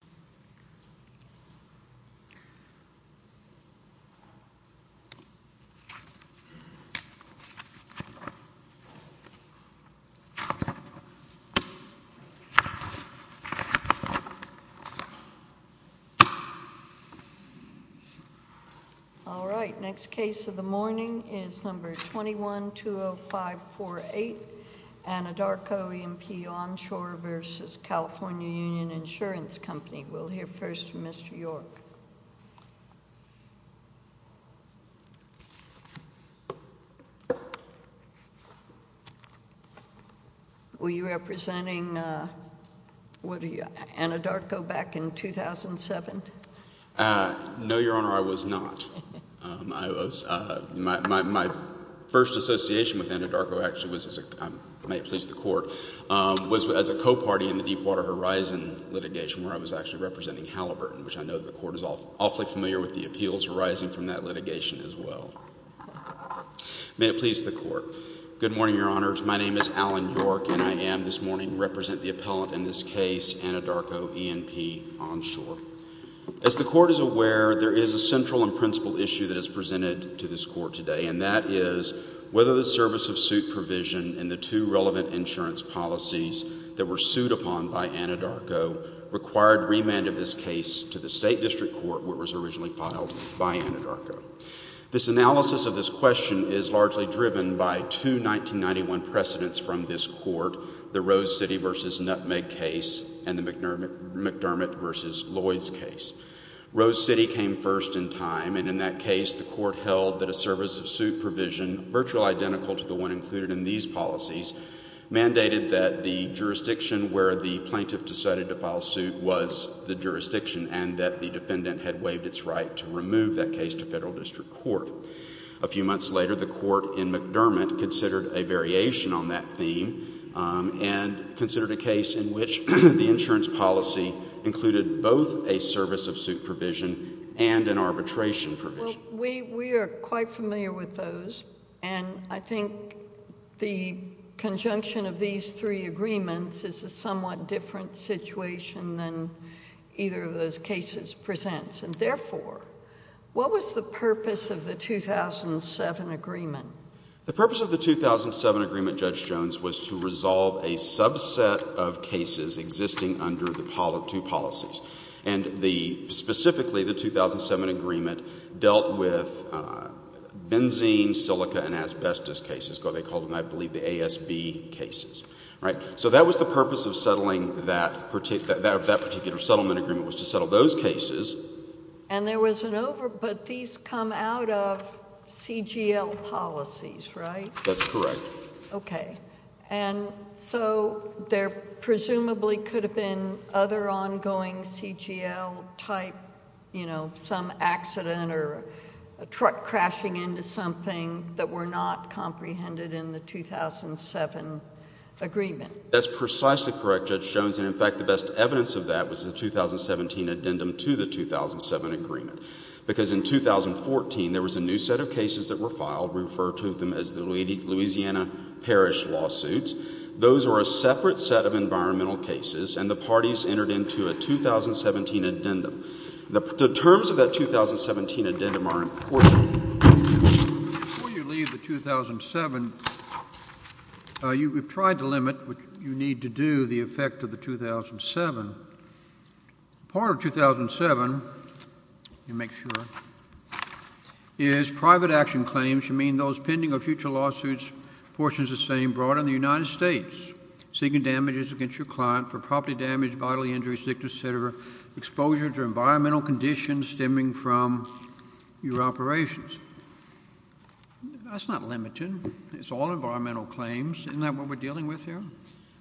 nce Company, 2120548, and Adarko E&P Onshore v. California Union Insurance Company, 2120548. We'll hear first from Mr. York. Were you representing Anadarko back in 2007? No, Your Honor, I was not. My first association with Anadarko actually was as a co-party in the Deepwater Horizon litigation, where I was actually representing Halliburton, which I know the Court is awfully familiar with the appeals arising from that litigation as well. May it please the Court. Good morning, Your Honors. My name is Alan York, and I am this morning representing the appellant in this case, Anadarko E&P Onshore. As the Court is aware, there is a central and principal issue that is presented to this Court today, and that is whether the service of suit provision and the two relevant insurance policies that were sued upon by Anadarko required remand of this case to the State District Court where it was originally filed by Anadarko. This analysis of this question is largely driven by two 1991 precedents from this Court, the Rose City v. Nutmeg case and the McDermott v. Lloyds case. Rose City came first in time, and in that case, the Court held that a service of suit provision, virtually identical to the one included in these policies, mandated that the jurisdiction where the plaintiff decided to file suit was the jurisdiction and that the defendant had waived its right to remove that case to Federal District Court. A few months later, the Court in McDermott considered a variation on that theme and considered a case in which the insurance policy included both a service of suit provision and an arbitration provision. Well, we are quite familiar with those, and I think the conjunction of these three agreements is a somewhat different situation than either of those cases presents. And therefore, what was the purpose of the 2007 agreement? The purpose of the 2007 agreement, Judge Jones, was to resolve a subset of cases existing under the two policies. And specifically, the 2007 agreement dealt with benzene, silica and asbestos cases. They called them, I believe, the ASB cases. Right? So that was the purpose of settling that particular settlement agreement, was to settle those cases. And there was an over, but these come out of CGL policies, right? That's correct. Okay. And so there presumably could have been other ongoing CGL-type, you know, some accident or a truck crashing into something that were not comprehended in the 2007 agreement. That's precisely correct, Judge Jones. And in fact, the best evidence of that was the 2017 addendum to the 2007 agreement. Because in 2014, there was a new set of cases that were filed. We refer to them as the Louisiana Parish lawsuits. Those were a separate set of environmental cases, and the parties entered into a 2017 addendum. The terms of that 2017 addendum are important. Before you leave the 2007, you have tried to limit what you need to do, the effect of the 2007. Part of 2007, let me make sure, is private action claims, private action claims should mean those pending or future lawsuits, portions the same, brought in the United States seeking damages against your client for property damage, bodily injury, sickness, et cetera, exposure to environmental conditions stemming from your operations. That's not limited. It's all environmental claims. Isn't that what we're dealing with here?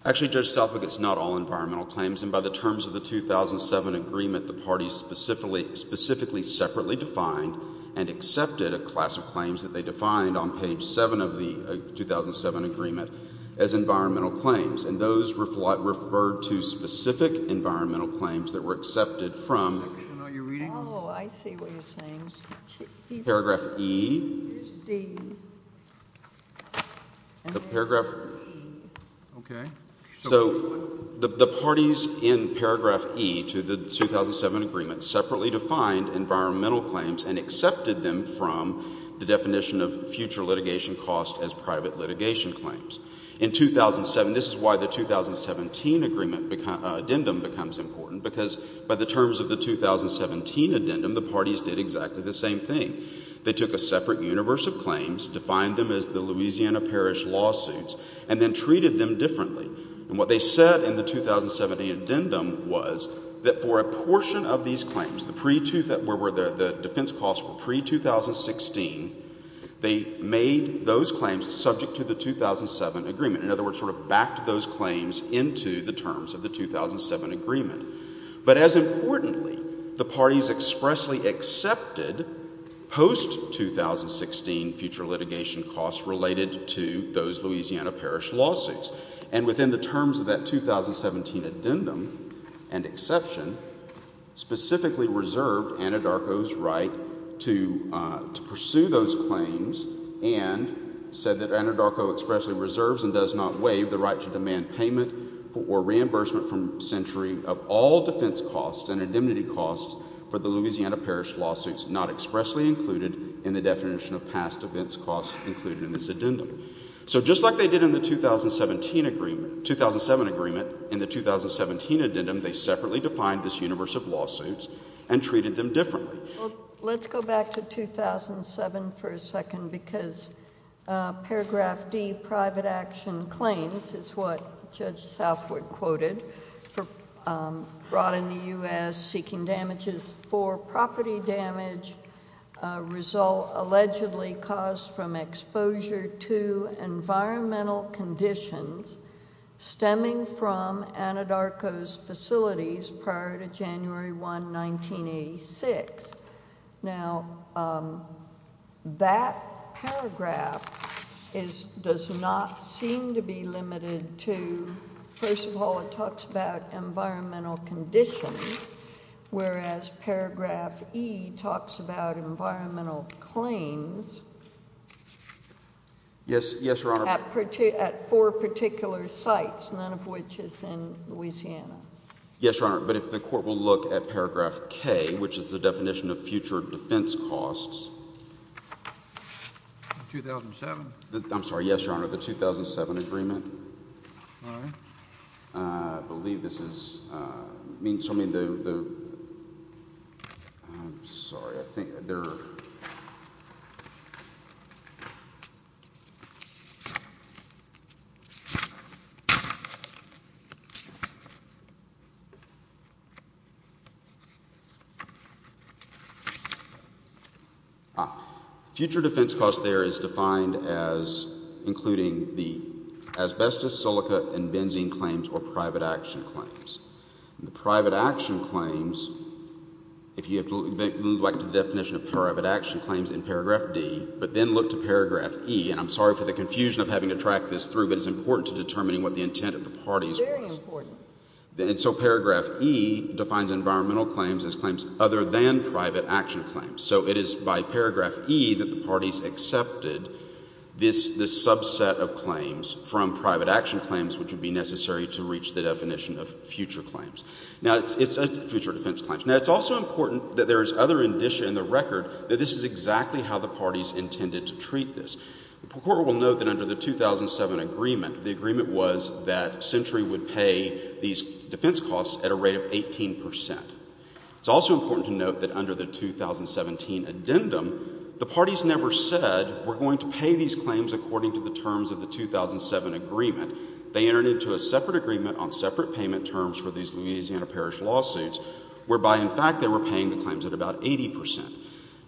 Actually, Judge Selfick, it's not all environmental claims. And by the terms of the 2007 agreement, the parties specifically separately defined and accepted a class of claims that they defined on page 7 of the 2007 agreement as environmental claims. And those referred to specific environmental claims that were accepted from paragraph E, so the parties in paragraph E to the 2007 agreement separately defined environmental claims and accepted them from the definition of future litigation cost as private litigation claims. In 2007, this is why the 2017 agreement addendum becomes important, because by the terms of the 2017 addendum, the parties did exactly the same thing. They took a separate universe of claims, defined them as the Louisiana Parish lawsuits, and then treated them differently. And what they said in the 2017 addendum was that for a portion of these claims, the defense costs were pre-2016, they made those claims subject to the 2007 agreement. In other words, sort of backed those claims into the terms of the 2007 agreement. But as importantly, the parties expressly accepted post-2016 future litigation costs related to those Louisiana Parish lawsuits. And within the terms of that 2017 addendum and exception, specifically reserved Anadarko's right to pursue those claims and said that Anadarko expressly reserves and does not waive the right to demand payment or reimbursement from Century of all defense costs and indemnity costs for the Louisiana Parish lawsuits not expressly included in the definition of past defense costs included in this addendum. So just like they did in the 2017 agreement, 2007 agreement, in the 2017 addendum they separately defined this universe of lawsuits and treated them differently. Let's go back to 2007 for a second, because paragraph D, private action claims, is what Judge Southwick quoted, for brought in the U.S., seeking damages for property damage result allegedly caused from exposure to environmental conditions stemming from Anadarko's facilities prior to January 1, 1986. Now, that paragraph does not seem to be limited to, first of all, it talks about environmental conditions, whereas paragraph E talks about environmental claims at four particular sites, none of which is in Louisiana. Yes, Your Honor, but if the Court will look at paragraph K, which is the definition of future defense costs. 2007? I'm sorry, yes, Your Honor, the 2007 agreement. I believe this is... I'm sorry, I think there are... Future defense costs there is defined as including the asbestos, silica and benzene claims or private action claims. The private action claims, if you would like to look at the definition of private action claims in paragraph D, but then look to paragraph E, and I'm sorry for the confusion of having to track this through, but it's important to determining what the intent of the parties was. Very important. And so paragraph E defines environmental claims as claims other than private action claims. So it is by paragraph E that the parties accepted this subset of claims from private action claims, which would be necessary to reach the definition of future defense claims. Now it's also important that there is other indicia in the record that this is exactly how the parties intended to treat this. The Court will note that under the 2007 agreement, the agreement was that Century would pay these defense costs at a rate of 18 percent. It's also important to note that under the 2017 addendum, the parties never said we're going to pay these claims according to the terms of the 2007 agreement. They entered into a separate agreement on separate payment terms for these Louisiana Parish lawsuits, whereby in fact they were paying the claims at about 80 percent.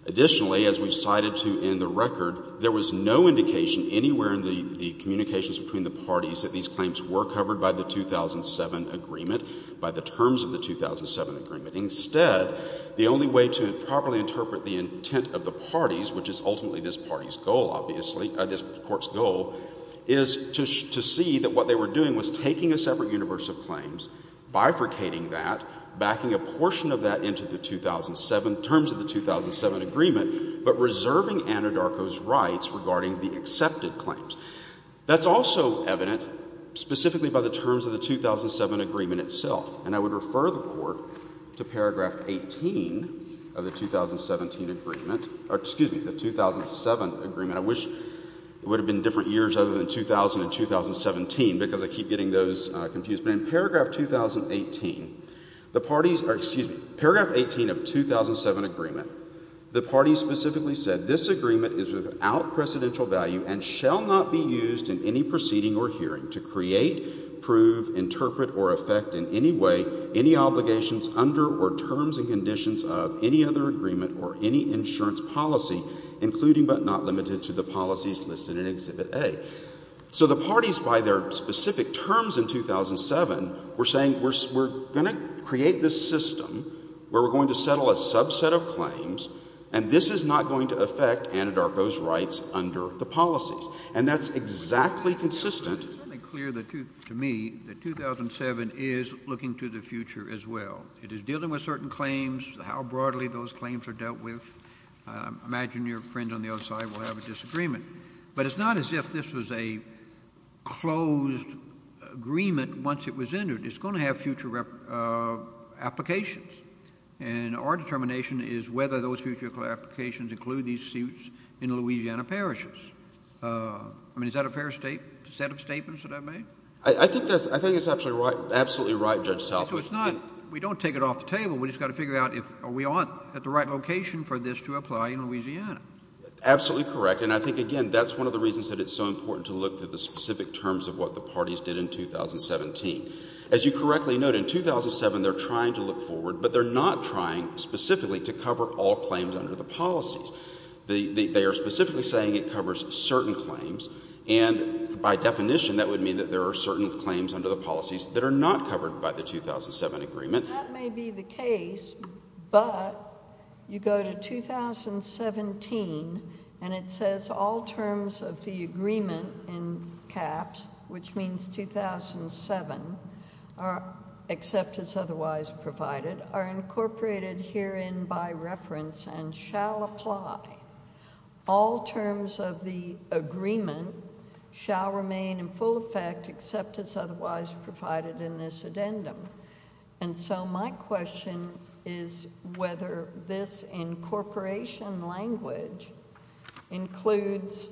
Additionally, as we've cited to in the record, there was no indication anywhere in the communications between the parties that these claims were covered by the 2007 agreement, by the terms of the 2007 agreement. Instead, the only way to properly interpret the intent of the parties, which is ultimately this party's goal, obviously, this Court's goal, is to see that what they were doing was taking a separate universe of claims, bifurcating that, backing a portion of that into the 2007, terms of the 2007 agreement, but reserving Anadarko's rights regarding the accepted claims. That's also evident specifically by the terms of the 2007 agreement itself. And I would wish it would have been different years other than 2000 and 2017, because I keep getting those confused. But in paragraph 2018, the parties, excuse me, paragraph 18 of 2007 agreement, the parties specifically said, this agreement is without precedential value and shall not be used in any proceeding or hearing to create, prove, interpret, or affect in any way any other agreement or any insurance policy, including but not limited to the policies listed in Exhibit A. So the parties, by their specific terms in 2007, were saying, we're going to create this system where we're going to settle a subset of claims, and this is not going to affect Anadarko's rights under the policies. And that's exactly consistent. It's certainly clear to me that 2007 is looking to the future as well. It is dealing with certain claims, how broadly those claims are dealt with. I imagine your friends on the other side will have a disagreement. But it's not as if this was a closed agreement once it was entered. It's going to have future applications. And our determination is whether those future applications include these suits in Louisiana parishes. I mean, is that a fair set of statements that I've made? I think that's... I think it's absolutely right, Judge Salford. So it's not... we don't take it off the table. We've just got to figure out if we are at the right location for this to apply in Louisiana. Absolutely correct. And I think, again, that's one of the reasons that it's so important to look through the specific terms of what the parties did in 2017. As you correctly note, in 2007, they're trying to look forward, but they're not trying specifically to cover all claims under the policies. They are specifically saying it covers certain claims, and by definition that would mean that there are certain claims under the policies that are not covered by the 2007 agreement. That may be the case, but you go to 2017 and it says all terms of the agreement in caps, which means 2007, except as otherwise provided, are incorporated herein by reference and shall apply. All terms of the agreement shall remain in full effect except as otherwise provided in this addendum. And so my question is whether this incorporation language includes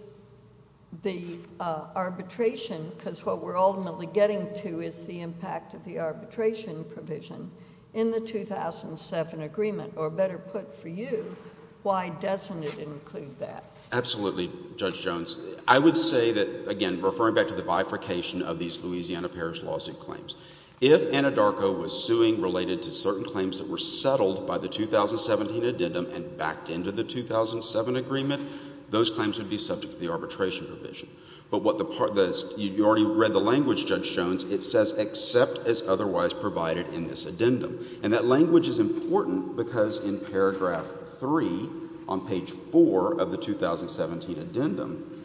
the arbitration, because what we're ultimately getting to is the impact of the arbitration provision in the 2007 agreement, or better put for you, why doesn't it include that? Absolutely, Judge Jones. I would say that, again, referring back to the bifurcation of these Louisiana Parish lawsuit claims, if Anadarko was suing related to certain claims that were settled by the 2017 addendum and backed into the 2007 agreement, those claims would be subject to the arbitration provision. But what the part that is, you already read the language, Judge Jones, it says except as otherwise provided in this addendum. And that language is important because in paragraph 3 on page 4 of the 2017 addendum,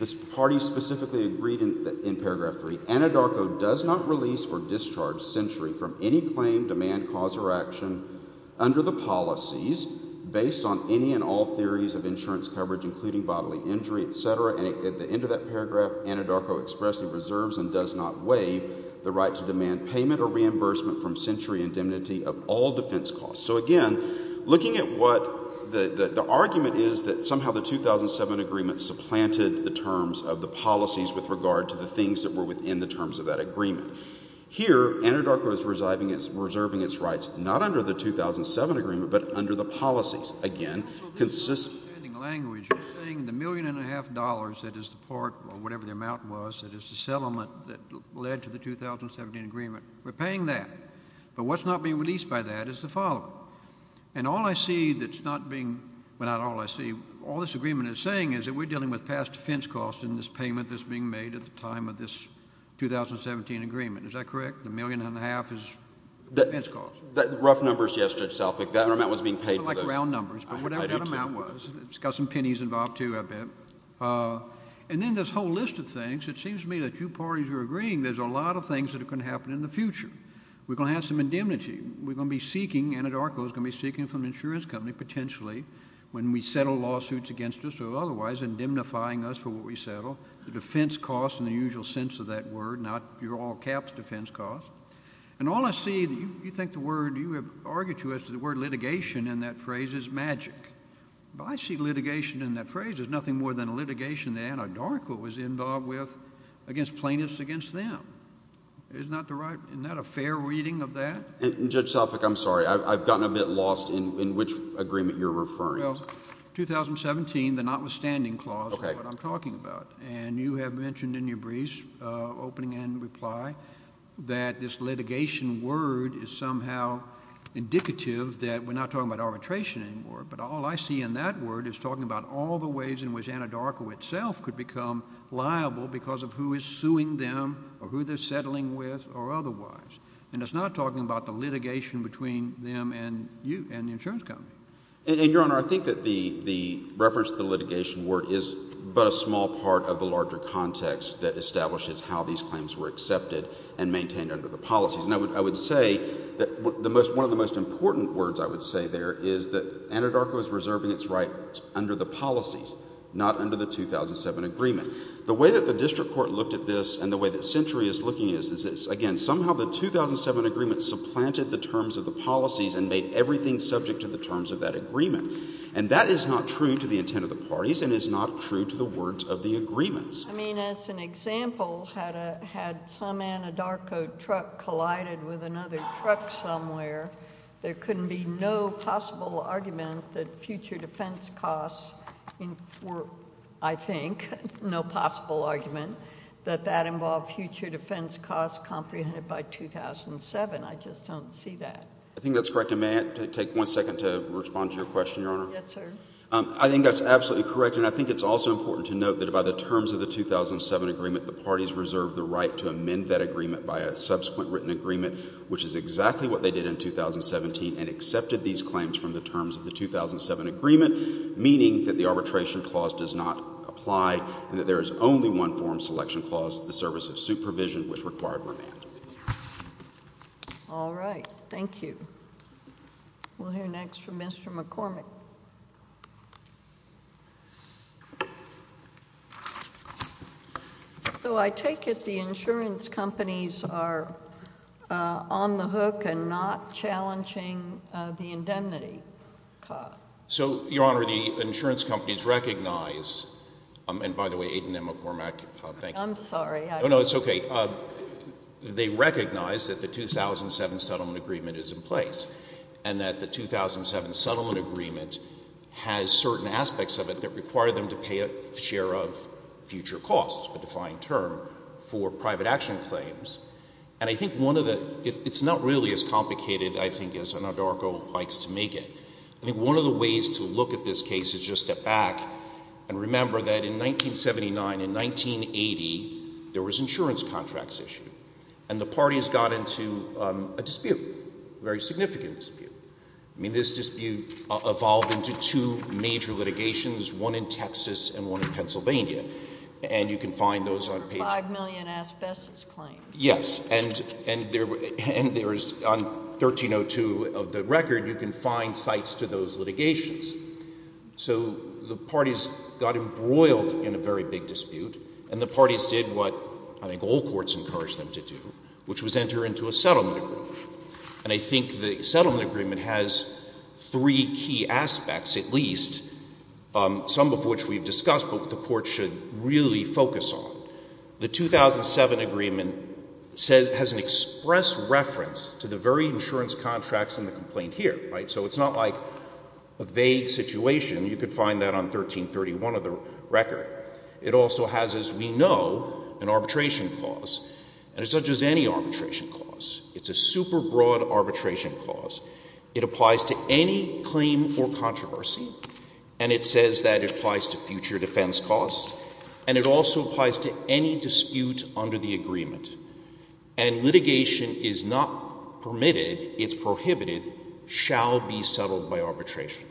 the parties specifically agreed in paragraph 3, Anadarko does not release or discharge century from any claim, demand, cause or action under the policies based on any and all theories of insurance coverage, including bodily injury, et cetera. And at the end of that paragraph, Anadarko expressly reserves and does not waive the right to demand payment or reimbursement from century indemnity of all defense costs. So again, looking at what the argument is that somehow the 2007 agreement supplanted the terms of the policies with regard to the things that were within the terms of that agreement. Here, Anadarko is reserving its rights, not under the 2007 agreement, but under the policies. Again, consistent... In the language, you're saying the million and a half dollars that is the part or whatever the amount was that is the settlement that led to the 2017 agreement, we're paying that. But what's not being released by that is the following. And all I see that's not being... Well, not all I see. All this agreement is saying is that we're dealing with past defense costs in this payment that's being made at the time of this 2017 agreement. Is that correct? The million and a half is defense costs? Rough numbers, yes, Judge Salfik. That amount was being paid for those. Like round numbers. But whatever that amount was, it's got some pennies involved too, I bet. And then this whole list of things, it seems to me that you parties are agreeing there's a lot of things that are going to happen in the future. We're going to have some indemnity. We're going to be seeking, Anadarko is going to be seeking from an insurance company, potentially, when we settle lawsuits against us or otherwise, indemnifying us for what we settle, the defense costs in the usual sense of that word, not your all caps defense costs. And all I see, you think the word, you have argued to us that the word litigation in that phrase is magic. But I see litigation in that phrase as nothing more than a litigation that Anadarko was involved with against plaintiffs against them. Isn't that a fair reading of that? And Judge Salfik, I'm sorry, I've gotten a bit lost in which agreement you're referring to. Well, 2017, the notwithstanding clause is what I'm talking about. And you have mentioned in your briefs, opening and reply, that this litigation word is somehow indicative that we're not talking about arbitration anymore. But all I see in that word is talking about all the ways in which Anadarko itself could become liable because of who is suing them or who they're settling with or otherwise. And it's not talking about the litigation between them and you and the insurance company. And, Your Honor, I think that the reference to the litigation word is but a small part of the larger context that establishes how these claims were accepted and maintained under the policies. And I would say that one of the most important words I would say there is that Anadarko is reserving its rights under the policies, not under the 2007 agreement. The way that the district court looked at this and the way that Century is looking at this is, again, somehow the 2007 agreement supplanted the terms of the policies and made everything subject to the terms of that agreement. And that is not true to the intent of the parties and is not true to the words of the agreements. I mean, as an example, had a, had some Anadarko truck collided with another truck somewhere, there couldn't be no possible argument that future defense costs were, I think, no longer a possible argument that that involved future defense costs comprehended by 2007. I just don't see that. I think that's correct. And may I take one second to respond to your question, Your Honor? Yes, sir. I think that's absolutely correct. And I think it's also important to note that by the terms of the 2007 agreement, the parties reserved the right to amend that agreement by a subsequent written agreement, which is exactly what they did in 2017 and accepted these claims from the terms of the 2007 agreement, meaning that the arbitration clause does not apply and that there is only one form selection clause, the service of supervision, which required remand. All right. Thank you. We'll hear next from Mr. McCormick. So I take it the insurance companies are on the hook and not challenging the indemnity cost? So, Your Honor, the insurance companies recognize, and by the way, Aiden and McCormick, thank you. I'm sorry. No, no, it's okay. They recognize that the 2007 settlement agreement is in place and that the 2007 settlement agreement has certain aspects of it that require them to pay a share of future costs, a defined term, for private action claims. And I think one of the — it's not really as complicated, I think, as Anadarko likes to make it. I think one of the ways to look at this case is just to step back and remember that in 1979, in 1980, there was insurance contracts issued, and the parties got into a dispute, a very significant dispute. I mean, this dispute evolved into two major litigations, one in Texas and one in Pennsylvania, and you can find those on page — Five million asbestos claims. Yes. And there is — on 1302 of the record, you can find sites to those litigations. So the parties got embroiled in a very big dispute, and the parties did what I think all courts encouraged them to do, which was enter into a settlement agreement. And I think the settlement agreement has three key aspects, at least, some of which we've discussed but the Court should really focus on. The 2007 agreement says — has an express reference to the very insurance contracts in the complaint here, right? So it's not like a vague situation. You can find that on 1331 of the record. It also has, as we know, an arbitration clause, and it's not just any arbitration clause. It's a super broad arbitration clause. It says that it applies to future defense costs, and it also applies to any dispute under the agreement. And litigation is not permitted, it's prohibited, shall be settled by arbitration.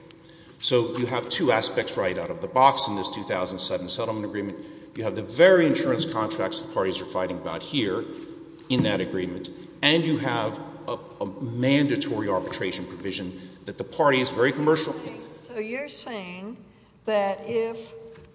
So you have two aspects right out of the box in this 2007 settlement agreement. You have the very insurance contracts the parties are fighting about here in that agreement, and you have a mandatory arbitration provision that the parties very commercially —... So you're saying that if,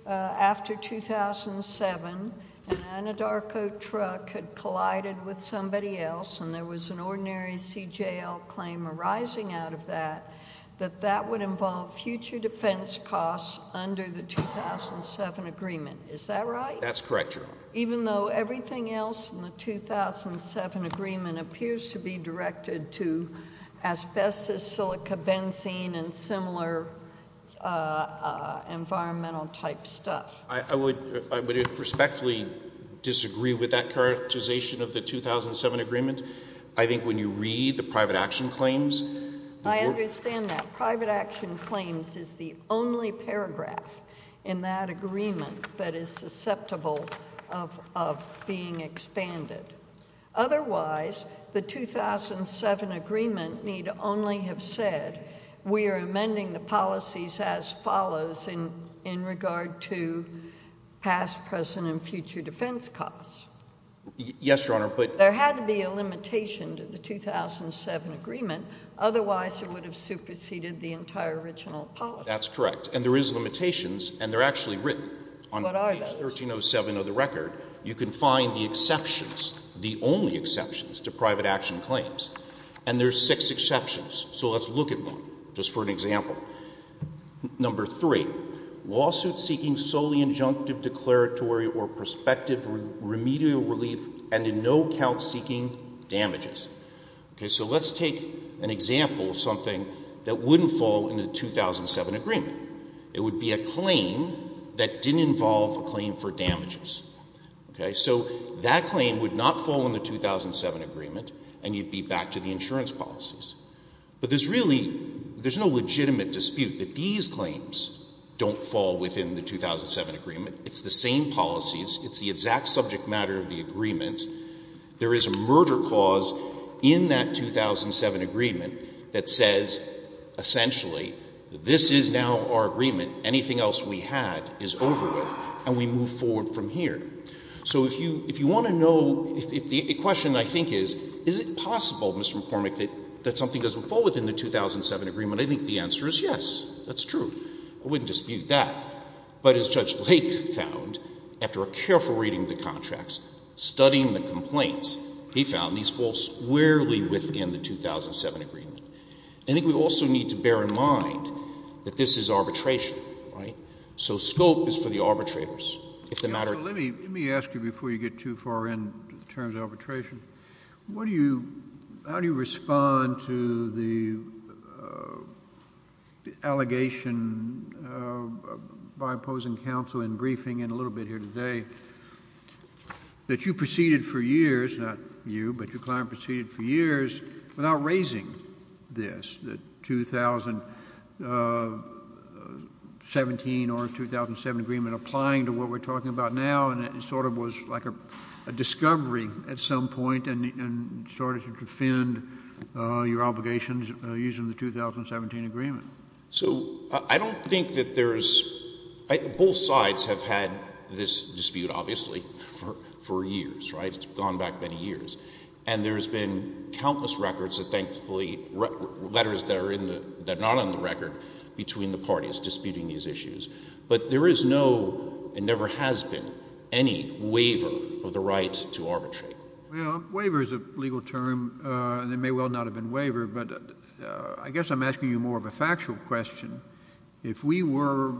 after 2007, an Anadarko truck had collided with somebody else and there was an ordinary CJL claim arising out of that, that that would involve future defense costs under the 2007 agreement. Is that right? That's correct, Your Honor. Even though everything else in the 2007 agreement appears to be directed to asbestos, silica, benzene, and similar environmental type stuff. I would respectfully disagree with that characterization of the 2007 agreement. I think when you read the private action claims... I understand that. Private action claims is the only paragraph in that agreement that we are amending the policies as follows in regard to past, present, and future defense costs. Yes, Your Honor, but... There had to be a limitation to the 2007 agreement. Otherwise, it would have superseded the entire original policy. That's correct. And there is limitations, and they're actually written on page 1307 of the record. What are those? You can find the exceptions, the only exceptions to private action claims. And there's six exceptions, so let's look at one, just for an example. Number three, lawsuit seeking solely injunctive declaratory or prospective remedial relief and in no count seeking damages. Okay, so let's take an example of something that wouldn't fall in the 2007 agreement. It would be a claim that didn't involve a claim for damages. Okay, so that claim would not fall in the 2007 agreement, and you'd be back to the insurance policies. But there's really, there's no legitimate dispute that these claims don't fall within the 2007 agreement. It's the same policies. It's the exact subject matter of the agreement. There is a murder clause in that 2007 agreement that says, essentially, this is now our agreement. Anything else we had is over with, and we move forward from here. So if you want to know, the question, I think, is, is it possible, Mr. McCormick, that something doesn't fall within the 2007 agreement? I think the answer is yes, that's true. I wouldn't dispute that. But as Judge Lake found, after a careful reading of the contracts, studying the complaints, he found these fall squarely within the 2007 agreement. I think we also need to bear in mind that this is arbitration, right? So scope is for Let me ask you, before you get too far into the terms of arbitration, how do you respond to the allegation by opposing counsel in briefing, and a little bit here today, that you proceeded for years, not you, but your client proceeded for years, without raising this, the 2017 or 2007 agreement, applying to what we're talking about now, and it sort of was like a discovery at some point, and started to defend your obligations using the 2017 agreement. So I don't think that there's, both sides have had this dispute, obviously, for years, right? It's gone back many years. And there's been countless records of, thankfully, letters that are in the, that are not on the record, between the parties disputing these issues. But there is no, and never has been, any waiver of the right to arbitrate. Well, waiver is a legal term, and it may well not have been waivered, but I guess I'm asking you more of a factual question. If we were,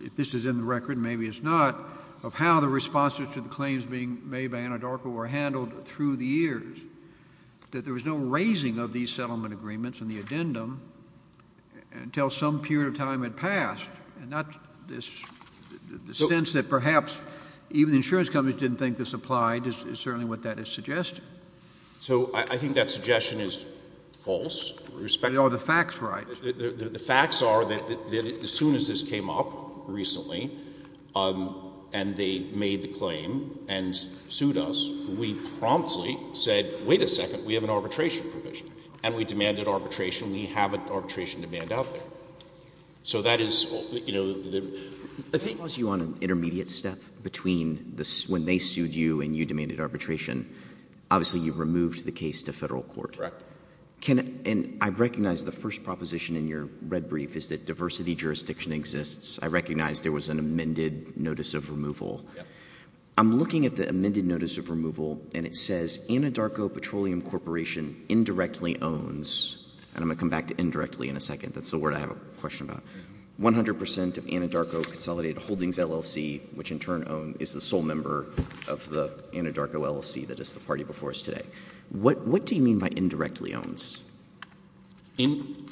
if this is in the record, maybe it's not, of how the responses to the claims being made by Anadarko were handled through the years, that there was no raising of these settlement agreements and the addendum until some period of time had passed, and not this, the sense that perhaps even the insurance companies didn't think this applied is certainly what that is suggesting. So I think that suggestion is false, in respect of the facts, right? The facts are that as soon as this came up, recently, and they made the claim and sued us, we promptly said that wait a second, we have an arbitration provision. And we demanded arbitration, we have an arbitration demand out there. So that is, you know, the... If they caused you on an intermediate step between the, when they sued you and you demanded arbitration, obviously you removed the case to federal court. Correct. Can, and I recognize the first proposition in your red brief is that diversity jurisdiction exists. I recognize there was an amended notice of removal. I'm looking at the amended notice of removal, and it says Anadarko Petroleum Corporation indirectly owns, and I'm going to come back to indirectly in a second, that's the word I have a question about, 100 percent of Anadarko Consolidated Holdings LLC, which in turn is the sole member of the Anadarko LLC that is the party before us today. What do you mean by indirectly owns? In,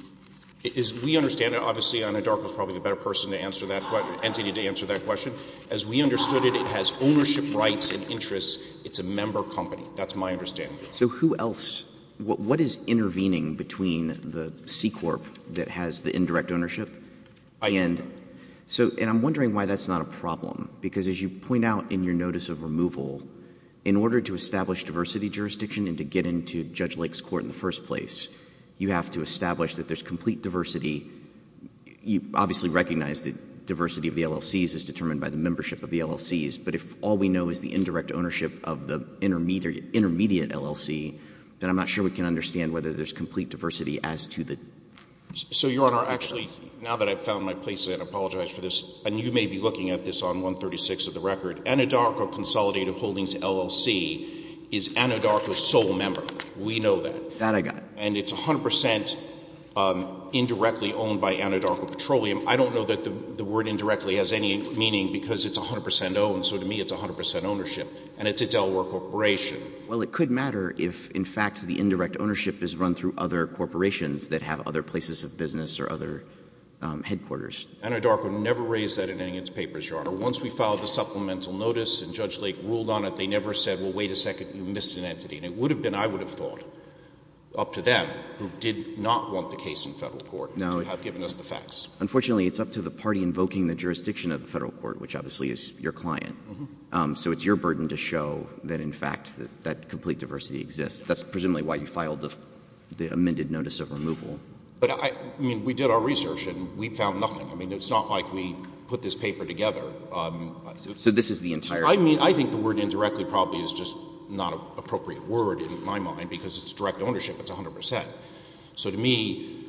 as we understand it, obviously Anadarko is probably the better person to answer that question. As we understood it, it has ownership rights and interests. It's a member company. That's my understanding. So who else, what is intervening between the C-Corp that has the indirect ownership? I... And so, and I'm wondering why that's not a problem, because as you point out in your notice of removal, in order to establish diversity jurisdiction and to get into Judge Lake's court in the first place, you have to establish that there's complete diversity. You obviously recognize the diversity of the LLCs is determined by the membership of the LLCs, but if all we know is the indirect ownership of the intermediate, intermediate LLC, then I'm not sure we can understand whether there's complete diversity as to the... So Your Honor, actually, now that I've found my place, I apologize for this, and you may be looking at this on 136 of the record, Anadarko Consolidated Holdings LLC is Anadarko's sole member. We know that. That I got. And it's 100% indirectly owned by Anadarko Petroleum. I don't know that the word indirectly has any meaning because it's 100% owned, so to me it's 100% ownership, and it's a Delaware corporation. Well, it could matter if, in fact, the indirect ownership is run through other corporations that have other places of business or other headquarters. Anadarko never raised that in any of its papers, Your Honor. Once we filed the supplemental notice and Judge Lake ruled on it, they never said, well, wait a second, you missed an entity. And it would have been, I would have thought, up to them, who did not want the case in federal court, to have given us the facts. Unfortunately, it's up to the party invoking the jurisdiction of the federal court, which obviously is your client. So it's your burden to show that, in fact, that complete diversity exists. That's presumably why you filed the amended notice of removal. But I mean, we did our research and we found nothing. I mean, it's not like we put this paper together. So this is the entire... I mean, I think the word indirectly probably is just not an appropriate word in my mind because it's direct ownership. It's 100 percent. So to me,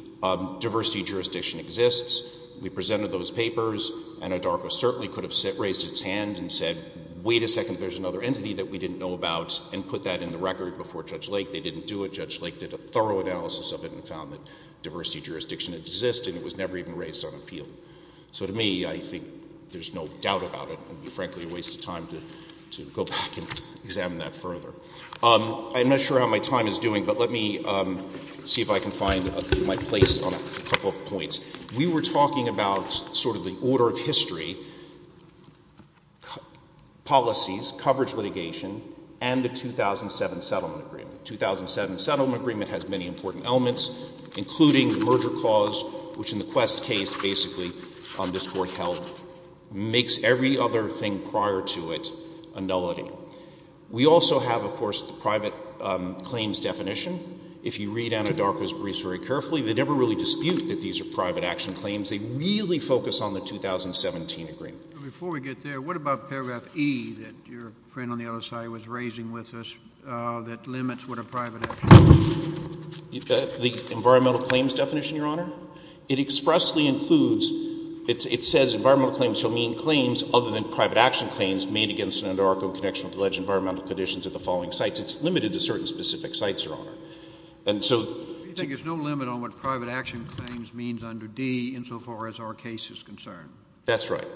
diversity jurisdiction exists. We presented those papers. Anadarko certainly could have raised its hand and said, wait a second, there's another entity that we didn't know about, and put that in the record before Judge Lake. They didn't do it. Judge Lake did a thorough analysis of it and found that diversity jurisdiction exists, and it was never even raised on appeal. So to me, I think there's no doubt about it. It would be, frankly, a waste of time to go back and examine that further. I'm not sure how my time is doing, but let me see if I can find my place on a couple of points. We were talking about sort of the order of history, policies, coverage litigation, and the 2007 settlement agreement. The 2007 settlement agreement has many important elements, including the merger clause, which in the Quest case, basically, this Court held, makes every other thing prior to it a nullity. We also have, of course, the private claims definition. If you read Anadarko's briefs very carefully, they never really dispute that these are private action claims. They really focus on the 2017 agreement. Before we get there, what about paragraph E that your friend on the other side was raising with us that limits what a private action claim is? The environmental claims definition, Your Honor? It expressly includes, it says environmental claims shall mean claims other than private action claims made against an Anadarko in connection with alleged environmental conditions at the following sites. It's limited to certain specific sites, Your Honor. And so do you think there's no limit on what private action claims means under D insofar as our case is concerned? That's right.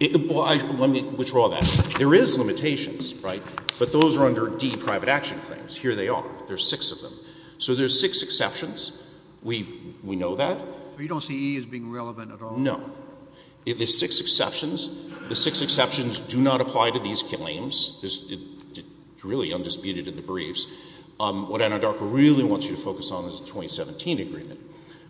Well, let me withdraw that. There is limitations, right? But those are under D private action claims. Here they are. There are six of them. So there are six exceptions. We know that. But you don't see E as being relevant at all? No. There are six exceptions. The six exceptions do not apply to these claims. It's really undisputed in the briefs. What Anadarko really wants you to focus on is the 2017 agreement.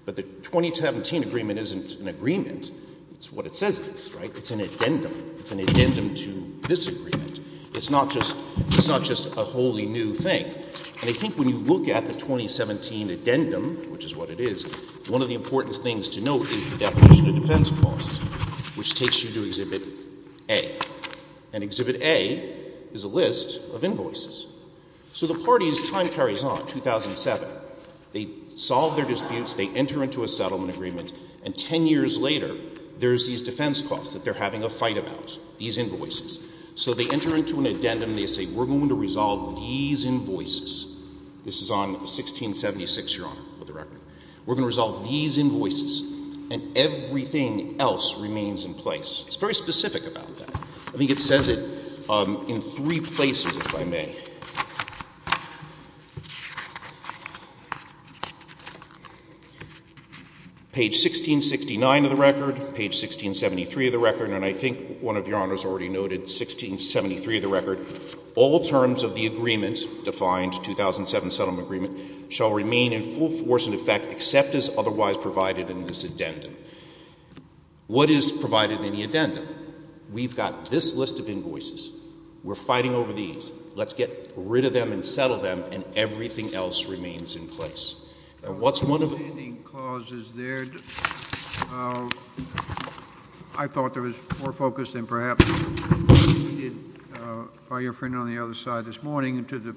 But the 2017 agreement isn't an agreement. It's what it says it is, right? It's an addendum. It's an addendum to this agreement. It's not just a wholly new thing. And I think when you look at the 2017 addendum, which is what it is, one of the important things to note is the definition of defense costs, which takes you to Exhibit A. And Exhibit A is a settlement agreement. And 10 years later, there's these defense costs that they're having a fight about. These invoices. So they enter into an addendum and they say, we're going to resolve these invoices. This is on 1676, Your Honor, with the record. We're going to resolve these invoices. And everything else remains in place. It's very specific about that. I think it says it in three places, if I may. Page 1669 of the record, page 1673 of the record, and I think one of Your Honors already noted 1673 of the record, all terms of the agreement, defined 2007 settlement agreement, shall remain in full force and effect except as otherwise provided in this addendum. What is provided in the addendum? We've got this list of invoices. We're fighting over these. Let's get rid of them and settle them and everything else remains in place. And what's one of them? Notwithstanding clauses there, I thought there was more focus than perhaps needed by your friend on the other side this morning to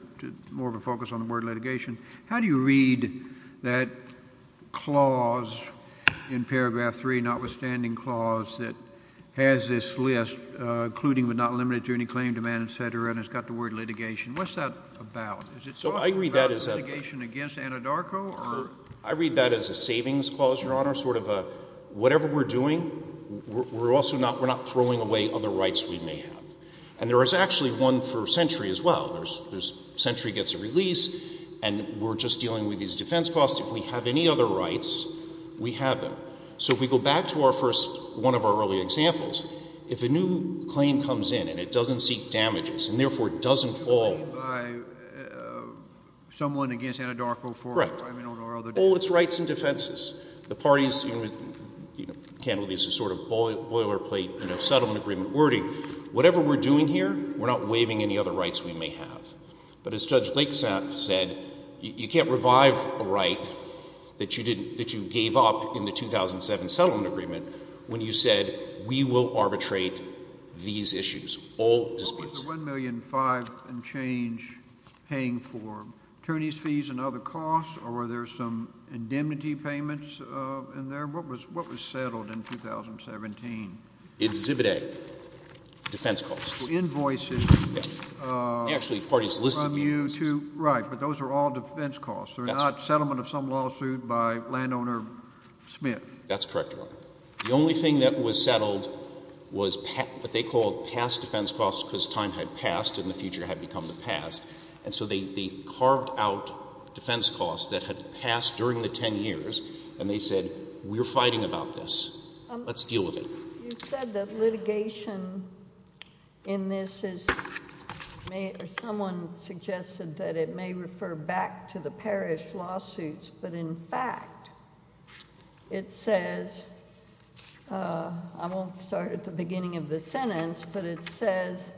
more of a focus on the word litigation. How do you read that clause in paragraph three, notwithstanding clause, that has this list, including but not limited to any claim, demand, et cetera, and it's got the word litigation. What's that about? So I read that as a litigation against Anadarko or? I read that as a savings clause, Your Honor, sort of a whatever we're doing, we're also not throwing away other rights we may have. And there is actually one for Sentry as well. Sentry gets a release and we're just dealing with these defense costs. If we have any other rights, we have them. So if we go back to our first one of our early examples, if a new claim comes in and it doesn't seek damages and therefore doesn't fall by someone against Anadarko for, I mean, I don't know how they're doing. Correct. Well, it's rights and defenses. The parties, you know, can't really use a sort of boilerplate, you know, settlement agreement wording. Whatever we're doing here, we're not waiving any other rights we may have. But as Judge Lakesap said, you can't revive a right that you didn't, that you gave up in the 2007 settlement agreement when you said we will arbitrate these issues, all disputes. Was the $1,000,005 and change paying for attorney's fees and other costs or were there some indemnity payments in there? What was, what was settled in 2017? Exhibit A, defense costs. Invoices. Yes. Actually, parties listed the invoices. Right. But those are all defense costs. That's right. They're not settlement of some lawsuit by landowner Smith. That's correct, Your Honor. The only thing that was settled was what they called past defense costs because time had passed and the future had become the past. And so they carved out defense costs that had passed during the ten years and they said, we're fighting about this. Let's deal with it. You said that litigation in this is, may, or someone suggested that it may refer back to the parish lawsuits. But in fact, it says, I won't start at the beginning of the sentence, but it says,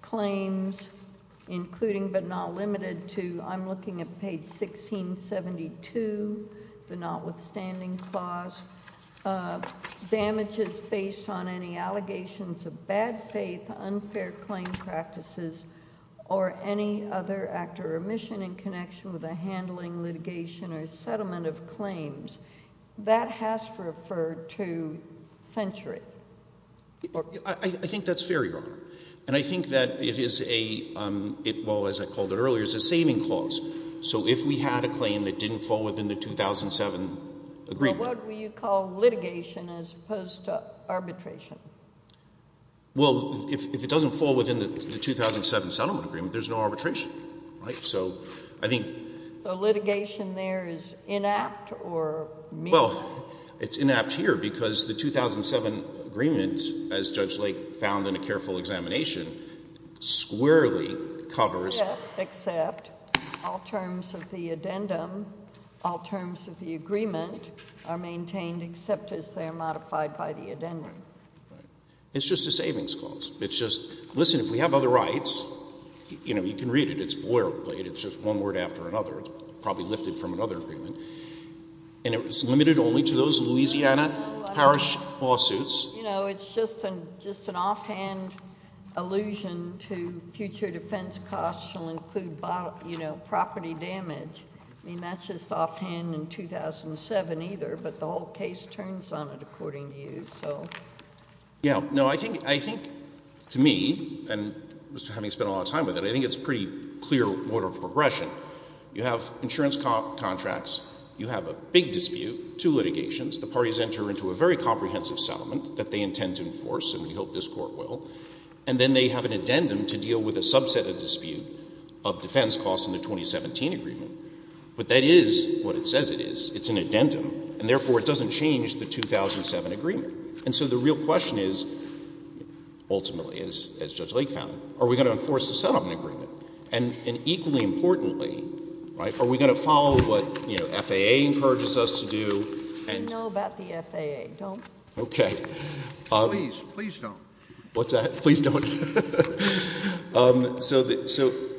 claims, including but not limited to, I'm looking at page 1672, the notwithstanding clause, damages based on any allegations of bad faith, unfair claim practices, or any other act or remission in connection with a handling, litigation, or settlement of claims. That has to refer to century. I think that's fair, Your Honor. And I think that it is a, well, as I called it earlier, it's a saving clause. So if we had a claim that didn't fall within the 2007 agreement. Well, what would you call litigation as opposed to arbitration? Well, if it doesn't fall within the 2007 settlement agreement, there's no arbitration. Right? So I think. So litigation there is inapt or mean? Well, it's inapt here because the 2007 agreements, as Judge Lake found in a careful examination, squarely covers. Except, except, all terms of the addendum, all terms of the agreement are maintained except as they are modified by the addendum. It's just a savings clause. It's just, listen, if we have other rights, you know, you can read it. It's boilerplate. It's just one word after another. It's probably lifted from another settlement agreement. And it was limited only to those Louisiana Parish lawsuits. You know, it's just an, just an offhand allusion to future defense costs shall include, you know, property damage. I mean, that's just offhand in 2007 either, but the whole case turns on it according to you, so. Yeah. No, I think, I think to me, and having spent a lot of time with it, I think it's a pretty clear order of progression. You have insurance contracts. You have a big dispute, two litigations. The parties enter into a very comprehensive settlement that they intend to enforce, and we hope this Court will. And then they have an addendum to deal with a subset of dispute of defense costs in the 2017 agreement. But that is what it says it is. It's an addendum, and therefore it doesn't change the 2007 agreement. And so the real question is, ultimately, as Judge Lake found, are we going to enforce the 2007 agreement? And equally importantly, right, are we going to follow what, you know, FAA encourages us to do? I know about the FAA. Don't. Okay. Please, please don't. What's that? Please don't.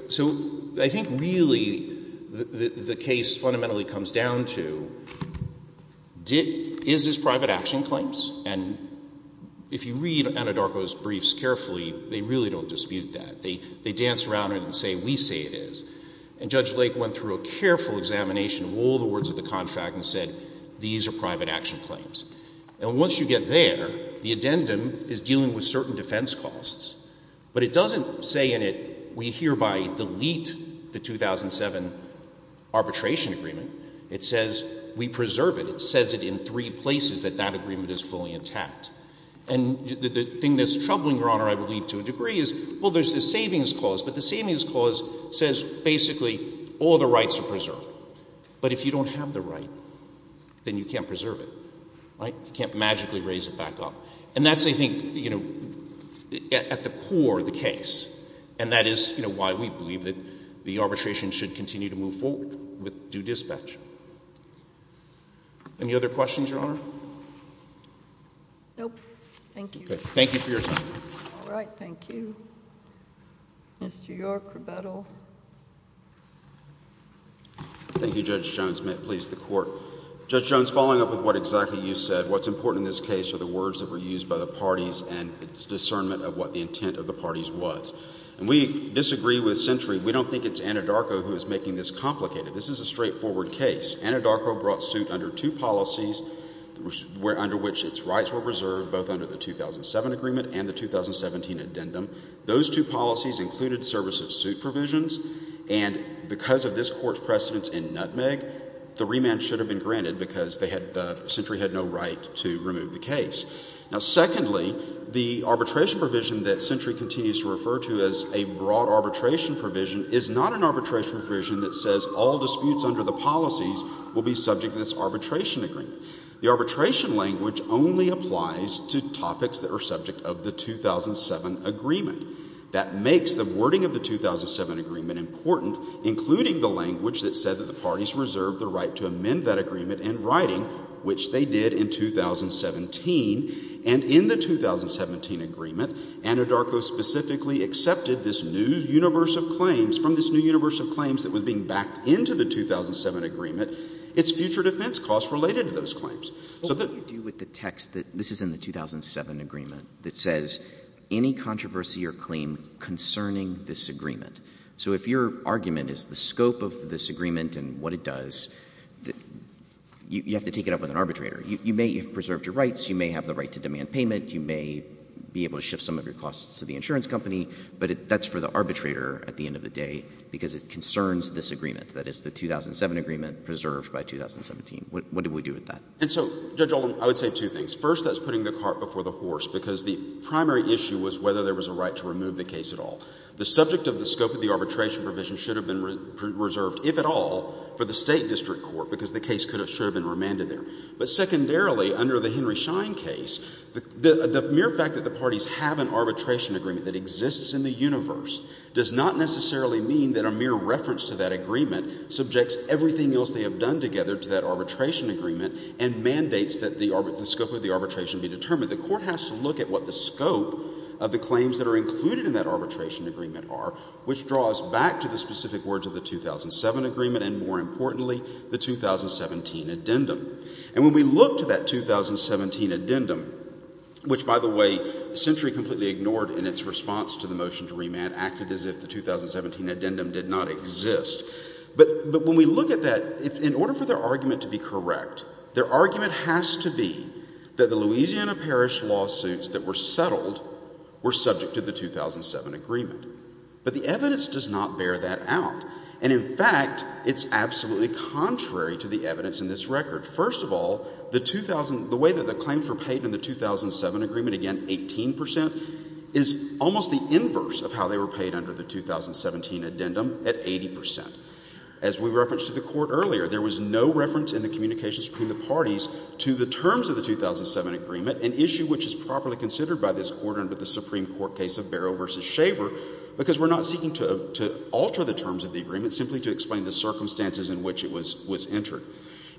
So I think really the case fundamentally comes down to, is this private action claims? And if you read Anadarko's briefs carefully, they really don't dispute that. They dance around it and say, we say it is. And Judge Lake went through a careful examination of all the words of the contract and said, these are private action claims. And once you get there, the addendum is dealing with certain defense costs. But it doesn't say in it, we hereby delete the 2007 arbitration agreement. It says we preserve it. It says it in three tact. And the thing that's troubling, Your Honor, I believe to a degree is, well, there's this savings clause, but the savings clause says basically all the rights are preserved. But if you don't have the right, then you can't preserve it, right? You can't magically raise it back up. And that's, I think, you know, at the core of the case. And that is, you know, why we believe that the arbitration should continue to move forward with due dispatch. Any other questions, Your Honor? Nope. Thank you. Thank you for your time. All right. Thank you. Mr. York, rebuttal. Thank you, Judge Jones. May it please the Court. Judge Jones, following up with what exactly you said, what's important in this case are the words that were used by the parties and its discernment of what the intent of the parties was. And we disagree with Century. We don't think it's Anadarko who is making this complicated. This is a straightforward case. Anadarko brought suit under two policies under which its rights were preserved, both under the 2007 agreement and the 2017 addendum. Those two policies included service of suit provisions. And because of this Court's precedence in Nutmeg, the remand should have been granted because Century had no right to remove the case. Now, secondly, the arbitration provision that Century continues to refer to as a broad arbitration provision is not an arbitration provision that says all disputes under the policies will be subject to this arbitration agreement. The arbitration language only applies to topics that are subject of the 2007 agreement. That makes the wording of the 2007 agreement important, including the language that said that the parties reserved the right to amend that agreement in writing, which they did in 2017. And in the 2017 agreement, Anadarko specifically accepted this new universe of claims, from this new universe of claims that was being backed into the 2007 agreement, its future defense costs related to those claims. What would you do with the text that this is in the 2007 agreement that says any controversy or claim concerning this agreement? So if your argument is the scope of this agreement and what it does, you have to take it up with an arbitrator. You may have preserved your payment. You may be able to shift some of your costs to the insurance company. But that's for the arbitrator at the end of the day, because it concerns this agreement, that it's the 2007 agreement preserved by 2017. What do we do with that? And so, Judge Oldham, I would say two things. First, that's putting the cart before the horse, because the primary issue was whether there was a right to remove the case at all. The subject of the scope of the arbitration provision should have been reserved, if at all, for the State district court, because the case could have — should have been remanded there. But secondarily, under the Henry Schein case, the mere fact that the parties have an arbitration agreement that exists in the universe does not necessarily mean that a mere reference to that agreement subjects everything else they have done together to that arbitration agreement and mandates that the scope of the arbitration be determined. The Court has to look at what the scope of the claims that are included in that arbitration agreement are, which draws back to the specific words of the 2007 agreement and, more importantly, the 2017 addendum. And when we look to that 2017 addendum, which, by the way, Century completely ignored in its response to the motion to remand, acted as if the 2017 addendum did not exist. But when we look at that, in order for their argument to be correct, their argument has to be that the Louisiana Parish lawsuits that were settled were subject to the 2007 agreement. But the evidence does not bear that out. And, in fact, it's absolutely contrary to the evidence in this record. First of all, the way that the claims were paid in the 2007 agreement, again, 18 percent, is almost the inverse of how they were paid under the 2017 addendum at 80 percent. As we referenced to the Court earlier, there was no reference in the communications between the parties to the terms of the 2007 agreement, an issue which is properly considered by this Court under the Supreme Court case of Barrow v. Shaver, because we're not seeking to alter the terms of the agreement, simply to explain the circumstances in which it was entered.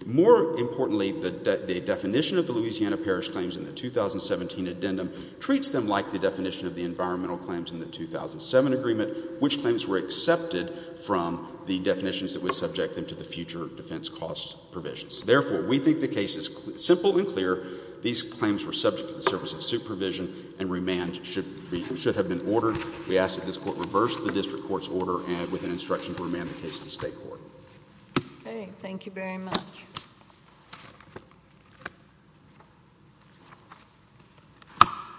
More importantly, the definition of the Louisiana Parish claims in the 2017 addendum treats them like the definition of the environmental claims in the 2007 agreement, which claims were accepted from the definitions that would subject them to the future defense cost provisions. Therefore, we think the case is simple and clear. These claims were subject to the service of supervision, and remand should have been ordered. We ask that this Court reverse the district court's order and with an instruction to remand the case to the State Court. Okay. Thank you very much.